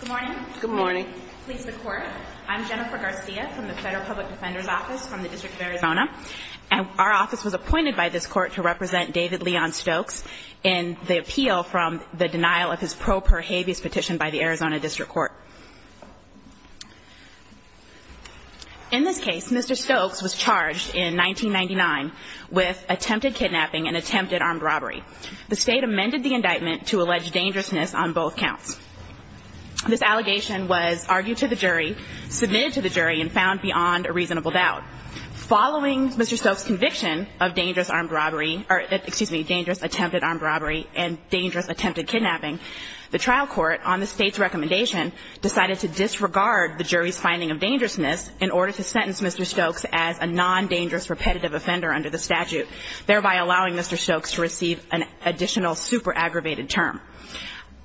Good morning. Good morning. Please record. I'm Jennifer Garcia from the Federal Public Defender's Office from the District of Arizona. Our office was appointed by this court to represent David Leon Stokes in the appeal from the denial of his pro per habeas petition by the Arizona District Court. In this case, Mr. Stokes was charged in 1999 with attempted kidnapping and attempted armed robbery. The state amended the indictment to allege dangerousness on both counts. This allegation was argued to the jury, submitted to the jury, and found beyond a reasonable doubt. Following Mr. Stokes' conviction of dangerous attempted armed robbery and dangerous attempted kidnapping, the trial court, on the state's recommendation, decided to disregard the jury's finding of dangerousness in order to sentence Mr. Stokes as a non-dangerous repetitive offender under the statute, thereby allowing Mr. Stokes to receive an additional super aggravated term.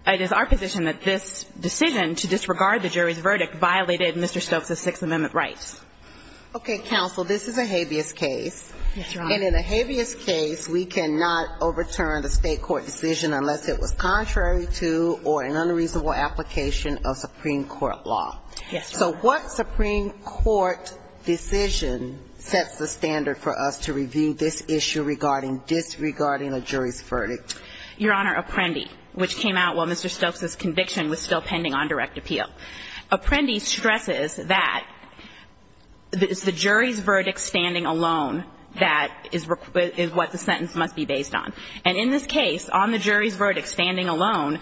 It is our position that this decision to disregard the jury's verdict violated Mr. Stokes' Sixth Amendment rights. Okay, counsel, this is a habeas case. Yes, Your Honor. And in a habeas case, we cannot overturn the state court decision unless it was contrary to or an unreasonable application of Supreme Court law. Yes, Your Honor. So what Supreme Court decision sets the standard for us to review this issue regarding disregarding a jury's verdict? Your Honor, Apprendi, which came out while Mr. Stokes' conviction was still pending on direct appeal. Apprendi stresses that it's the jury's verdict standing alone that is what the sentence must be based on. And in this case, on the jury's verdict standing alone,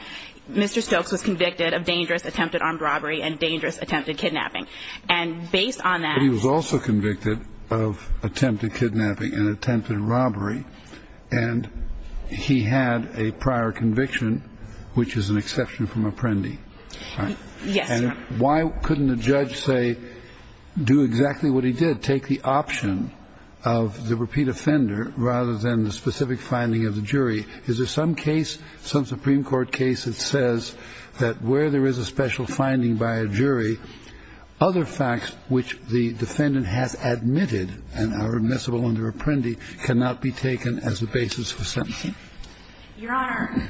Mr. Stokes was convicted of dangerous attempted armed robbery and dangerous attempted kidnapping. And based on that... But he was also convicted of attempted kidnapping and attempted robbery. And he had a prior conviction, which is an exception from Apprendi. Yes, Your Honor. And why couldn't a judge say, do exactly what he did, take the option of the repeat offender rather than the specific finding of the jury? Is there some case, some Supreme Court case that says that where there is a special finding by a jury, other facts which the defendant has admitted and are admissible under Apprendi cannot be taken as a basis for sentencing? Your Honor,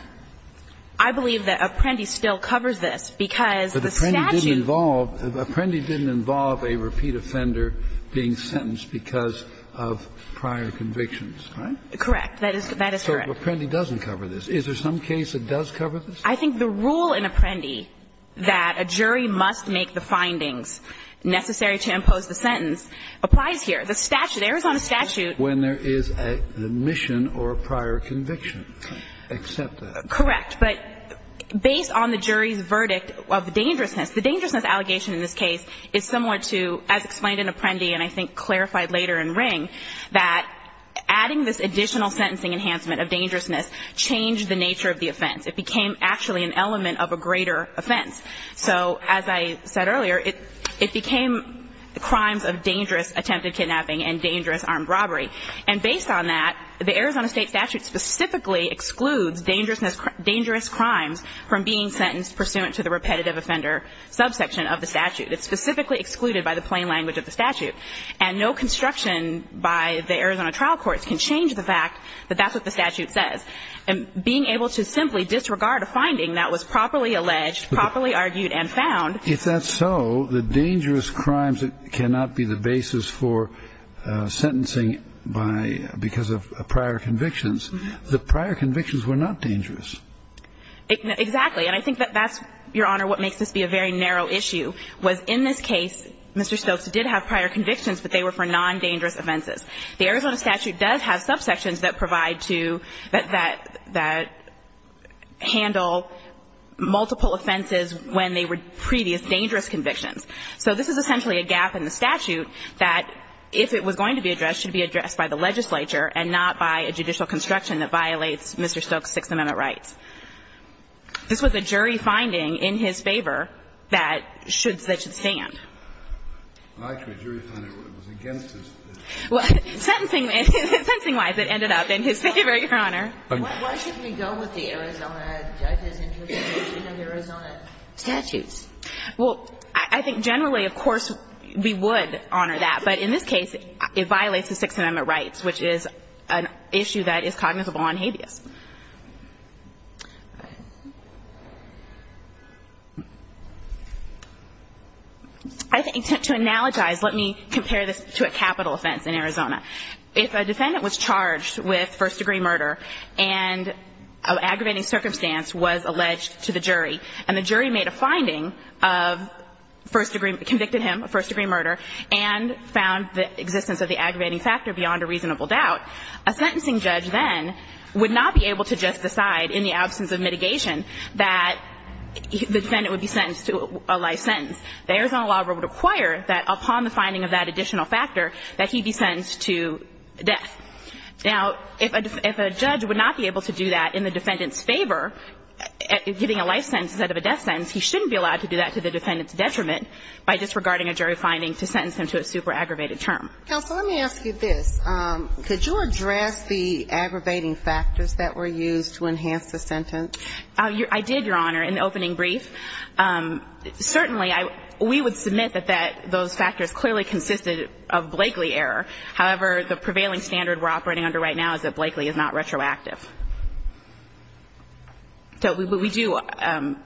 I believe that Apprendi still covers this because the statute... But Apprendi didn't involve a repeat offender being sentenced because of prior convictions, right? Correct. That is correct. But Apprendi doesn't cover this. Is there some case that does cover this? I think the rule in Apprendi that a jury must make the findings necessary to impose the sentence applies here. The statute, Arizona statute... When there is a mission or a prior conviction. Accept that. Correct. But based on the jury's verdict of dangerousness, the dangerousness allegation in this case is similar to, as explained in Apprendi and I think clarified later in Ring, that adding this additional sentencing enhancement of dangerousness changed the nature of the offense. It became actually an element of a greater offense. So as I said earlier, it became crimes of dangerous attempted kidnapping and dangerous armed robbery. And based on that, the Arizona State statute specifically excludes dangerous crimes from being sentenced pursuant to the repetitive offender subsection of the statute. It's specifically excluded by the plain language of the statute. And no construction by the Arizona trial courts can change the fact that that's what the statute says. And being able to simply disregard a finding that was properly alleged, properly argued and found... If that's so, the dangerous crimes cannot be the basis for sentencing by, because of prior convictions. The prior convictions were not dangerous. Exactly. And I think that that's, Your Honor, what makes this be a very narrow issue, was that in this case, Mr. Stokes did have prior convictions, but they were for non-dangerous offenses. The Arizona statute does have subsections that provide to, that handle multiple offenses when they were previous dangerous convictions. So this is essentially a gap in the statute that, if it was going to be addressed, should be addressed by the legislature and not by a judicial construction that violates Mr. Stokes' Sixth Amendment rights. This was a jury finding in his favor that should stand. Well, actually, a jury finding, but it was against his favor. Well, sentencing-wise, it ended up in his favor, Your Honor. Why should we go with the Arizona judge's interpretation of Arizona statutes? Well, I think generally, of course, we would honor that. But in this case, it violates the Sixth Amendment rights, which is an issue that is cognizable on habeas. I think to analogize, let me compare this to a capital offense in Arizona. If a defendant was charged with first-degree murder and an aggravating circumstance was alleged to the jury, and the jury made a finding of first-degree, convicted him of first-degree murder, and found the existence of the aggravating factor beyond a reasonable doubt, a sentencing judge then would not be able to just decide in the absence of mitigation that the defendant would be sentenced to a life sentence. The Arizona law would require that upon the finding of that additional factor that he be sentenced to death. Now, if a judge would not be able to do that in the defendant's favor, getting a life sentence instead of a death sentence, he shouldn't be allowed to do that to the defendant's detriment by disregarding a jury finding to sentence him to a super aggravated term. Counsel, let me ask you this. Could you address the aggravating factors that were used to enhance the sentence? I did, Your Honor, in the opening brief. Certainly, we would submit that those factors clearly consisted of Blakely error. However, the prevailing standard we're operating under right now is that Blakely is not retroactive. So we do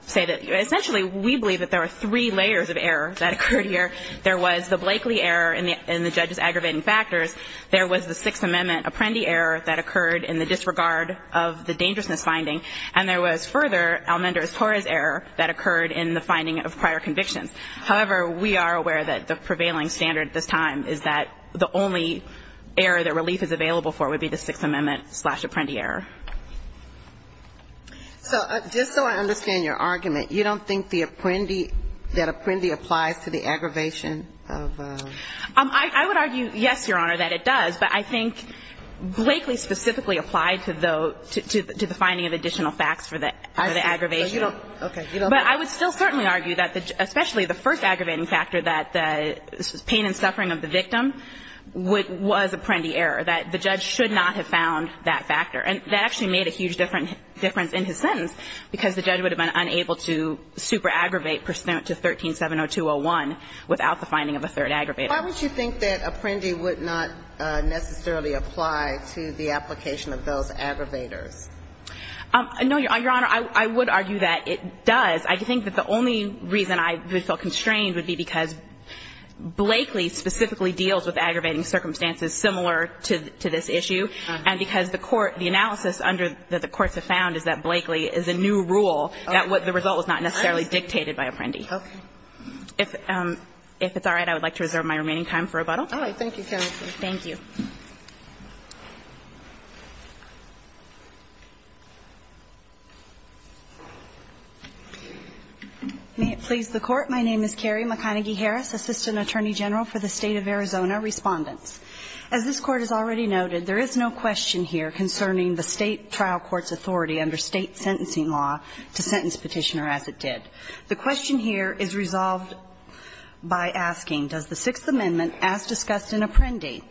say that essentially we believe that there are three layers of error that occurred here. There was the Blakely error in the judge's aggravating factors. There was the Sixth Amendment Apprendi error that occurred in the disregard of the dangerousness finding. And there was further Almendrez-Torres error that occurred in the finding of prior convictions. However, we are aware that the prevailing standard at this time is that the only error that relief is available for would be the Sixth Amendment slash Apprendi error. So just so I understand your argument, you don't think the Apprendi, that Apprendi applies to the aggravation of? I would argue, yes, Your Honor, that it does. But I think Blakely specifically applied to the finding of additional facts for the aggravation. Okay. But I would still certainly argue that, especially the first aggravating factor, that the pain and suffering of the victim was Apprendi error, that the judge should not have found that factor. And that actually made a huge difference in his sentence, because the judge would have been unable to super-aggravate pursuant to 13-702-01 without the finding of a third aggravator. Why would you think that Apprendi would not necessarily apply to the application of those aggravators? No, Your Honor, I would argue that it does. I think that the only reason I would feel constrained would be because Blakely specifically deals with aggravating circumstances similar to this issue, and because the court, the analysis under that the courts have found is that Blakely is a new rule, that the result was not necessarily dictated by Apprendi. Okay. If it's all right, I would like to reserve my remaining time for rebuttal. All right. Thank you, counsel. Thank you. May it please the Court. My name is Carrie McConaghy-Harris, Assistant Attorney General for the State of Arizona Respondents. As this Court has already noted, there is no question here concerning the State trial court's authority under State sentencing law to sentence Petitioner as it did. The question here is resolved by asking, does the Sixth Amendment, as discussed in Apprendi,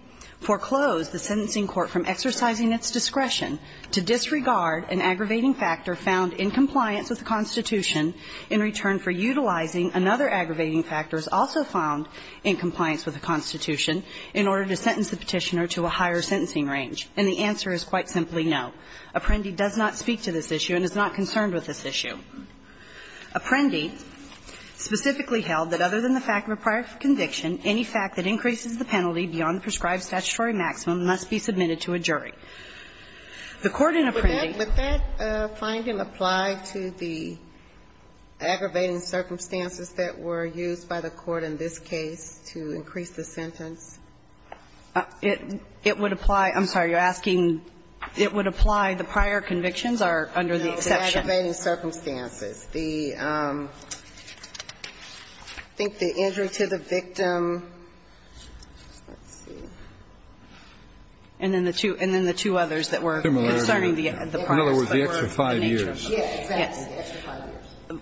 foreclose the sentencing court from exercising its discretion to disregard an aggravating factor found in compliance with the Constitution in return for utilizing another aggravating factor as also found in compliance with the Constitution in order to sentence the Petitioner to a higher sentencing range? And the answer is quite simply no. Apprendi does not speak to this issue and is not concerned with this issue. Apprendi specifically held that other than the fact of a prior conviction, any fact that increases the penalty beyond the prescribed statutory maximum must be submitted to a jury. The court in Apprendi. Would that finding apply to the aggravating circumstances that were used by the court in this case to increase the sentence? It would apply. I'm sorry, you're asking, it would apply. The prior convictions are under the exception. No, the aggravating circumstances. I think the injury to the victim, let's see, and then the two others that were concerning the prior. In other words, the extra five years. Yes.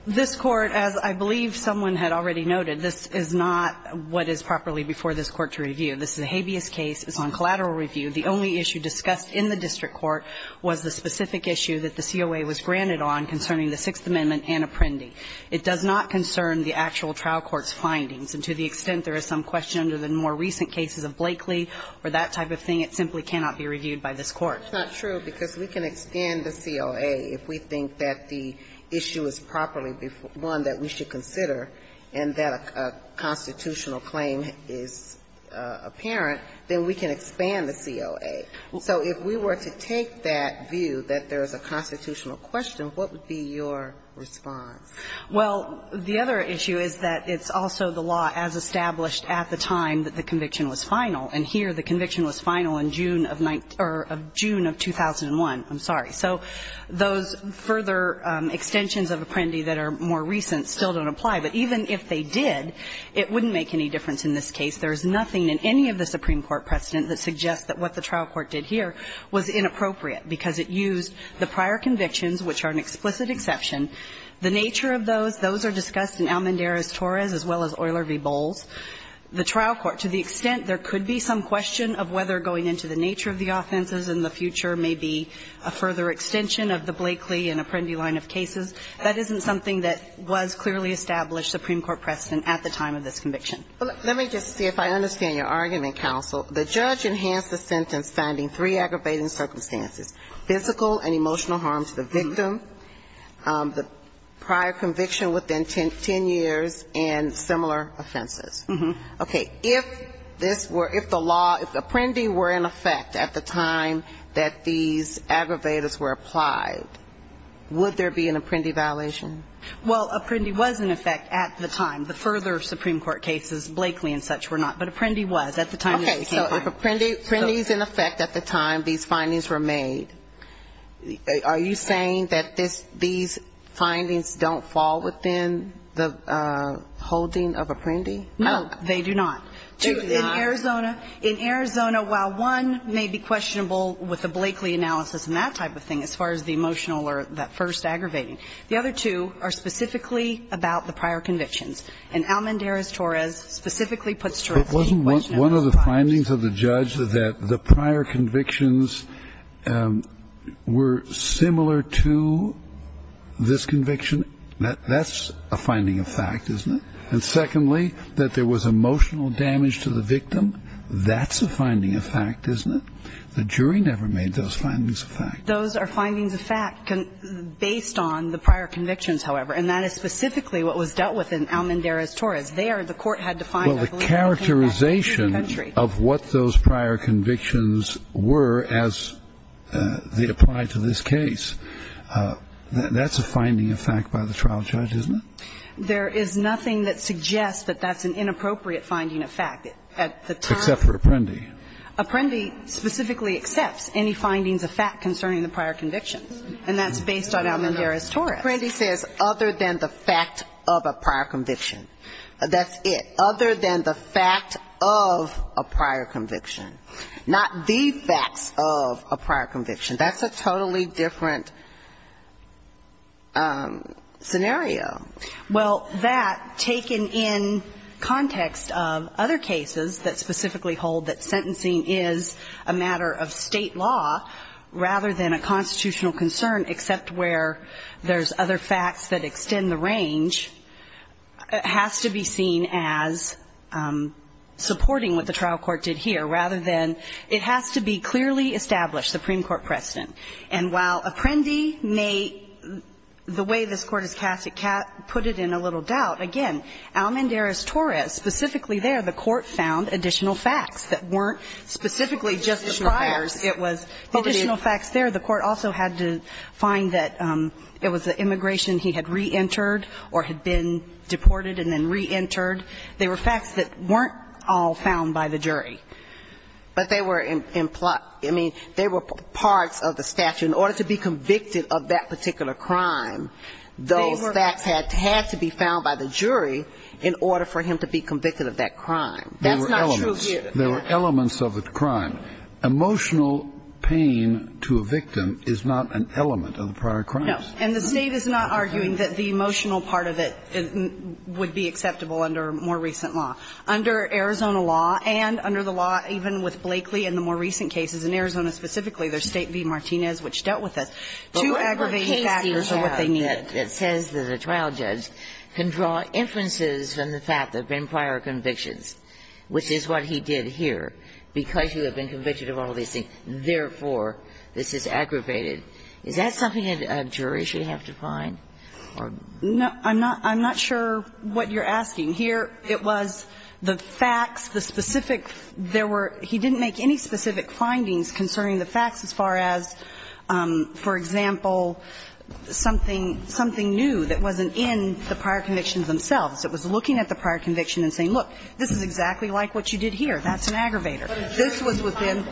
This Court, as I believe someone had already noted, this is not what is properly before this Court to review. This is a habeas case. It's on collateral review. The only issue discussed in the district court was the specific issue that the COA was granted on concerning the Sixth Amendment and Apprendi. It does not concern the actual trial court's findings. And to the extent there is some question under the more recent cases of Blakely or that type of thing, it simply cannot be reviewed by this Court. That's not true, because we can expand the COA if we think that the issue is properly one that we should consider and that a constitutional claim is apparent, then we can expand the COA. So if we were to take that view, that there is a constitutional question, what would be your response? Well, the other issue is that it's also the law as established at the time that the conviction was final. And here the conviction was final in June of 2001. I'm sorry. So those further extensions of Apprendi that are more recent still don't apply. But even if they did, it wouldn't make any difference in this case. There is nothing in any of the Supreme Court precedent that suggests that what the trial court did here was inappropriate, because it used the prior convictions, which are an explicit exception. The nature of those, those are discussed in Almendarez-Torres as well as Euler v. Almendarez-Torres. The trial court, to the extent there could be some question of whether going into the nature of the offenses in the future may be a further extension of the Blakely and Apprendi line of cases, that isn't something that was clearly established Supreme Court precedent at the time of this conviction. Well, let me just see if I understand your argument, counsel. The judge enhanced the sentence finding three aggravating circumstances, physical and emotional harm to the victim, the prior conviction within ten years, and similar offenses. Okay. If this were, if the law, if Apprendi were in effect at the time that these aggravators were applied, would there be an Apprendi violation? Well, Apprendi was in effect at the time. The further Supreme Court cases, Blakely and such were not. But Apprendi was at the time. Okay. So if Apprendi is in effect at the time these findings were made, are you saying that this, these findings don't fall within the holding of Apprendi? No, they do not. They do not? Two, in Arizona, in Arizona, while one may be questionable with the Blakely analysis and that type of thing, as far as the emotional or that first aggravating, the other two are specifically about the prior convictions. And Almendarez-Torres specifically puts to rest the question of the prior convictions. And secondly, that there was emotional damage to the victim, that's a finding of fact, isn't it? The jury never made those findings of fact. Those are findings of fact based on the prior convictions, however. And that is specifically what was dealt with in Almendarez-Torres. There, the court had to find a validity of that. the applied to this case. That's a finding of fact by the trial judge, isn't it? There is nothing that suggests that that's an inappropriate finding of fact at the time. Except for Apprendi. Apprendi specifically accepts any findings of fact concerning the prior convictions. And that's based on Almendarez-Torres. Apprendi says other than the fact of a prior conviction. That's it. Other than the fact of a prior conviction. Not the facts of a prior conviction. That's a totally different scenario. Well, that, taken in context of other cases that specifically hold that sentencing is a matter of state law, rather than a constitutional concern, except where there's other facts that extend the range, has to be seen as supporting what the trial court did here, rather than it has to be clearly established, Supreme Court precedent. And while Apprendi may, the way this Court has cast it, put it in a little doubt, again, Almendarez-Torres, specifically there, the court found additional facts that weren't specifically just the priors. Additional facts. It was additional facts there. The court also had to find that it was the immigration he had reentered or had been deported and then reentered. They were facts that weren't all found by the jury. But they were implied. I mean, they were parts of the statute. In order to be convicted of that particular crime, those facts had to be found by the jury in order for him to be convicted of that crime. That's not true here. There were elements. There were elements of the crime. Emotional pain to a victim is not an element of the prior crimes. No. And the State is not arguing that the emotional part of it would be acceptable under more recent law. Under Arizona law and under the law, even with Blakely and the more recent cases, in Arizona specifically, there's State v. Martinez, which dealt with this. Two aggravating factors are what they needed. Ginsburg. But whatever case you have that says that a trial judge can draw inferences from the fact that there have been prior convictions, which is what he did here, because you have been convicted of all these things, therefore, this is aggravated, is that something a jury should have to find? No. I'm not sure what you're asking. Here, it was the facts, the specific. There were he didn't make any specific findings concerning the facts as far as, for example, something new that wasn't in the prior convictions themselves. It was looking at the prior conviction and saying, look, this is exactly like what you did here. That's an aggravator. This was within.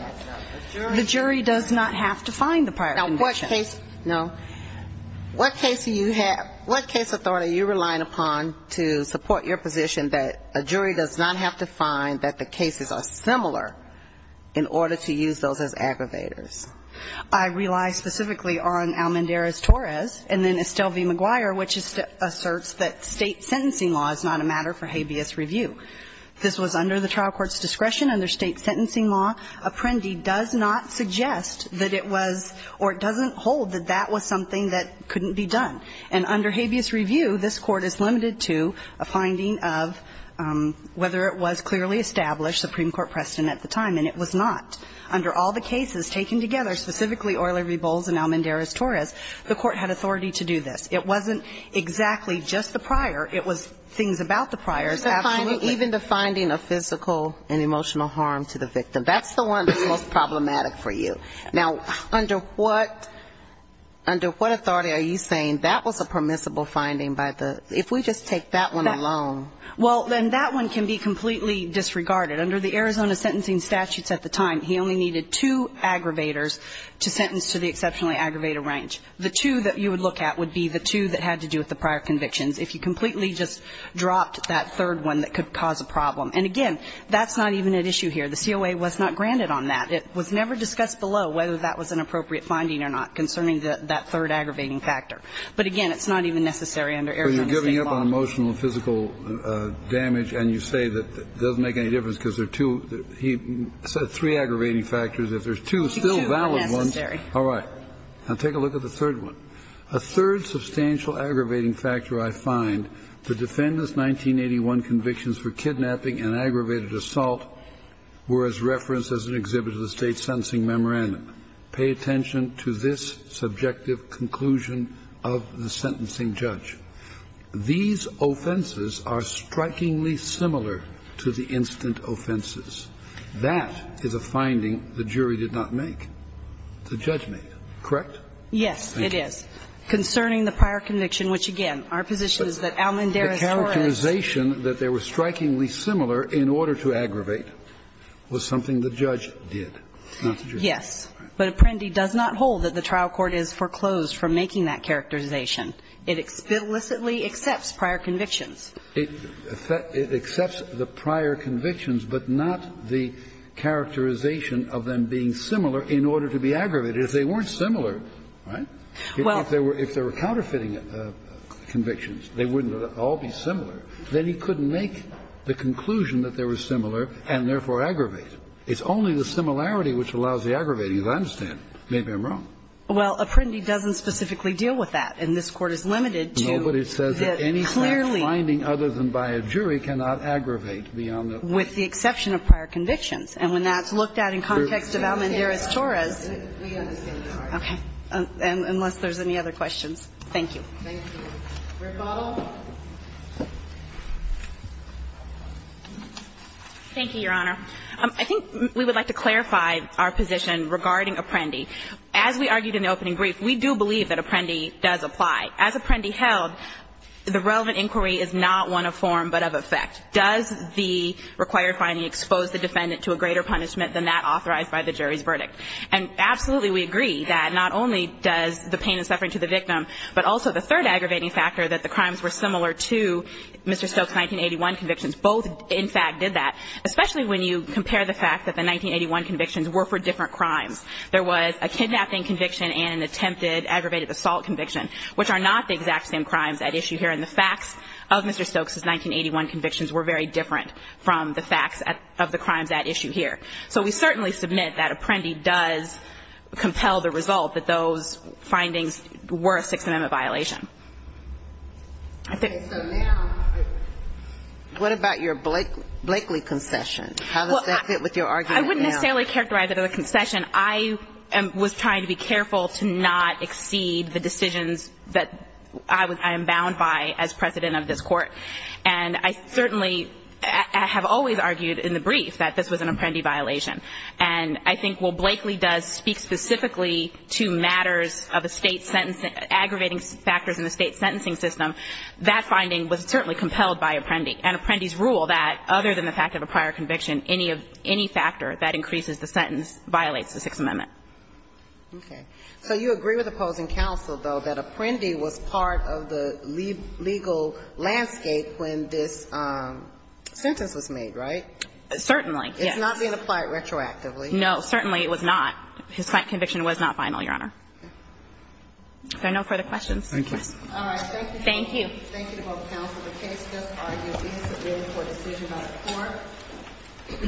The jury does not have to find the prior conviction. No. What case do you have, what case authority are you relying upon to support your position that a jury does not have to find that the cases are similar in order to use those as aggravators? I rely specifically on Almendarez-Torres and then Estelle v. McGuire, which asserts that State sentencing law is not a matter for habeas review. This was under the trial court's discretion, under State sentencing law. Apprendi does not suggest that it was or it doesn't hold that that was something that couldn't be done. And under habeas review, this Court is limited to a finding of whether it was clearly established, Supreme Court precedent at the time, and it was not. Under all the cases taken together, specifically Euler v. Bowles and Almendarez-Torres, the Court had authority to do this. It wasn't exactly just the prior. It was things about the prior. Even the finding of physical and emotional harm to the victim. That's the one that's most problematic for you. Now, under what authority are you saying that was a permissible finding by the If we just take that one alone. Well, then that one can be completely disregarded. Under the Arizona sentencing statutes at the time, he only needed two aggravators to sentence to the exceptionally aggravated range. The two that you would look at would be the two that had to do with the prior convictions. If you completely just dropped that third one, that could cause a problem. And, again, that's not even at issue here. The COA was not granted on that. It was never discussed below whether that was an appropriate finding or not concerning that third aggravating factor. But, again, it's not even necessary under Arizona State law. But you're giving up on emotional and physical damage and you say that it doesn't make any difference because there are two. He said three aggravating factors. If there's two still valid ones. Two are necessary. All right. Now, take a look at the third one. A third substantial aggravating factor, I find, the defendant's 1981 convictions for kidnapping and aggravated assault were as referenced as an exhibit of the State sentencing memorandum. Pay attention to this subjective conclusion of the sentencing judge. These offenses are strikingly similar to the instant offenses. That is a finding the jury did not make. The judge made. Correct? Yes, it is. Thank you. Concerning the prior conviction, which, again, our position is that Almendare is correct. The characterization that they were strikingly similar in order to aggravate was something the judge did, not the jury. Yes. But Apprendi does not hold that the trial court has foreclosed from making that characterization. It explicitly accepts prior convictions. It accepts the prior convictions, but not the characterization of them being similar in order to be aggravated. If they weren't similar, right, if they were counterfeiting convictions, they wouldn't all be similar. Then he couldn't make the conclusion that they were similar and therefore aggravate. It's only the similarity which allows the aggravating, as I understand. Maybe I'm wrong. Well, Apprendi doesn't specifically deal with that. And this Court is limited to that clearly. No, but it says that any such finding other than by a jury cannot aggravate beyond that point. With the exception of prior convictions. And when that's looked at in context of Almendare's Torres. We understand. Okay. Unless there's any other questions. Thank you. Thank you. Rick Bottle. Thank you, Your Honor. I think we would like to clarify our position regarding Apprendi. As we argued in the opening brief, we do believe that Apprendi does apply. As Apprendi held, the relevant inquiry is not one of form but of effect. Does the required finding expose the defendant to a greater punishment than that authorized by the jury's verdict? And absolutely we agree that not only does the pain and suffering to the victim, but also the third aggravating factor that the crimes were similar to Mr. Stokes' 1981 convictions. Both, in fact, did that. Especially when you compare the fact that the 1981 convictions were for different crimes. There was a kidnapping conviction and an attempted aggravated assault conviction, which are not the exact same crimes at issue here. And the facts of Mr. Stokes' 1981 convictions were very different from the facts of the crimes at issue here. So we certainly submit that Apprendi does compel the result that those findings were a Sixth Amendment violation. I think... So now, what about your Blakely concession? How does that fit with your argument now? I wouldn't necessarily characterize it as a concession. I was trying to be careful to not exceed the decisions that I am bound by as President of this Court. And I certainly have always argued in the brief that this was an Apprendi violation. And I think what Blakely does speak specifically to matters of aggravating factors in the State's sentencing system, that finding was certainly compelled by Apprendi. And Apprendi's rule that, other than the fact of a prior conviction, any factor that increases the sentence violates the Sixth Amendment. Okay. So you agree with opposing counsel, though, that Apprendi was part of the legal landscape when this sentence was made, right? Certainly. Yes. And that was not being applied retroactively. No. Certainly it was not. His conviction was not final, Your Honor. Okay. Is there no further questions? Thank you. All right. Thank you. Thank you. Thank you to both counsel. The case does argue being subpoenaed for a decision by the Court.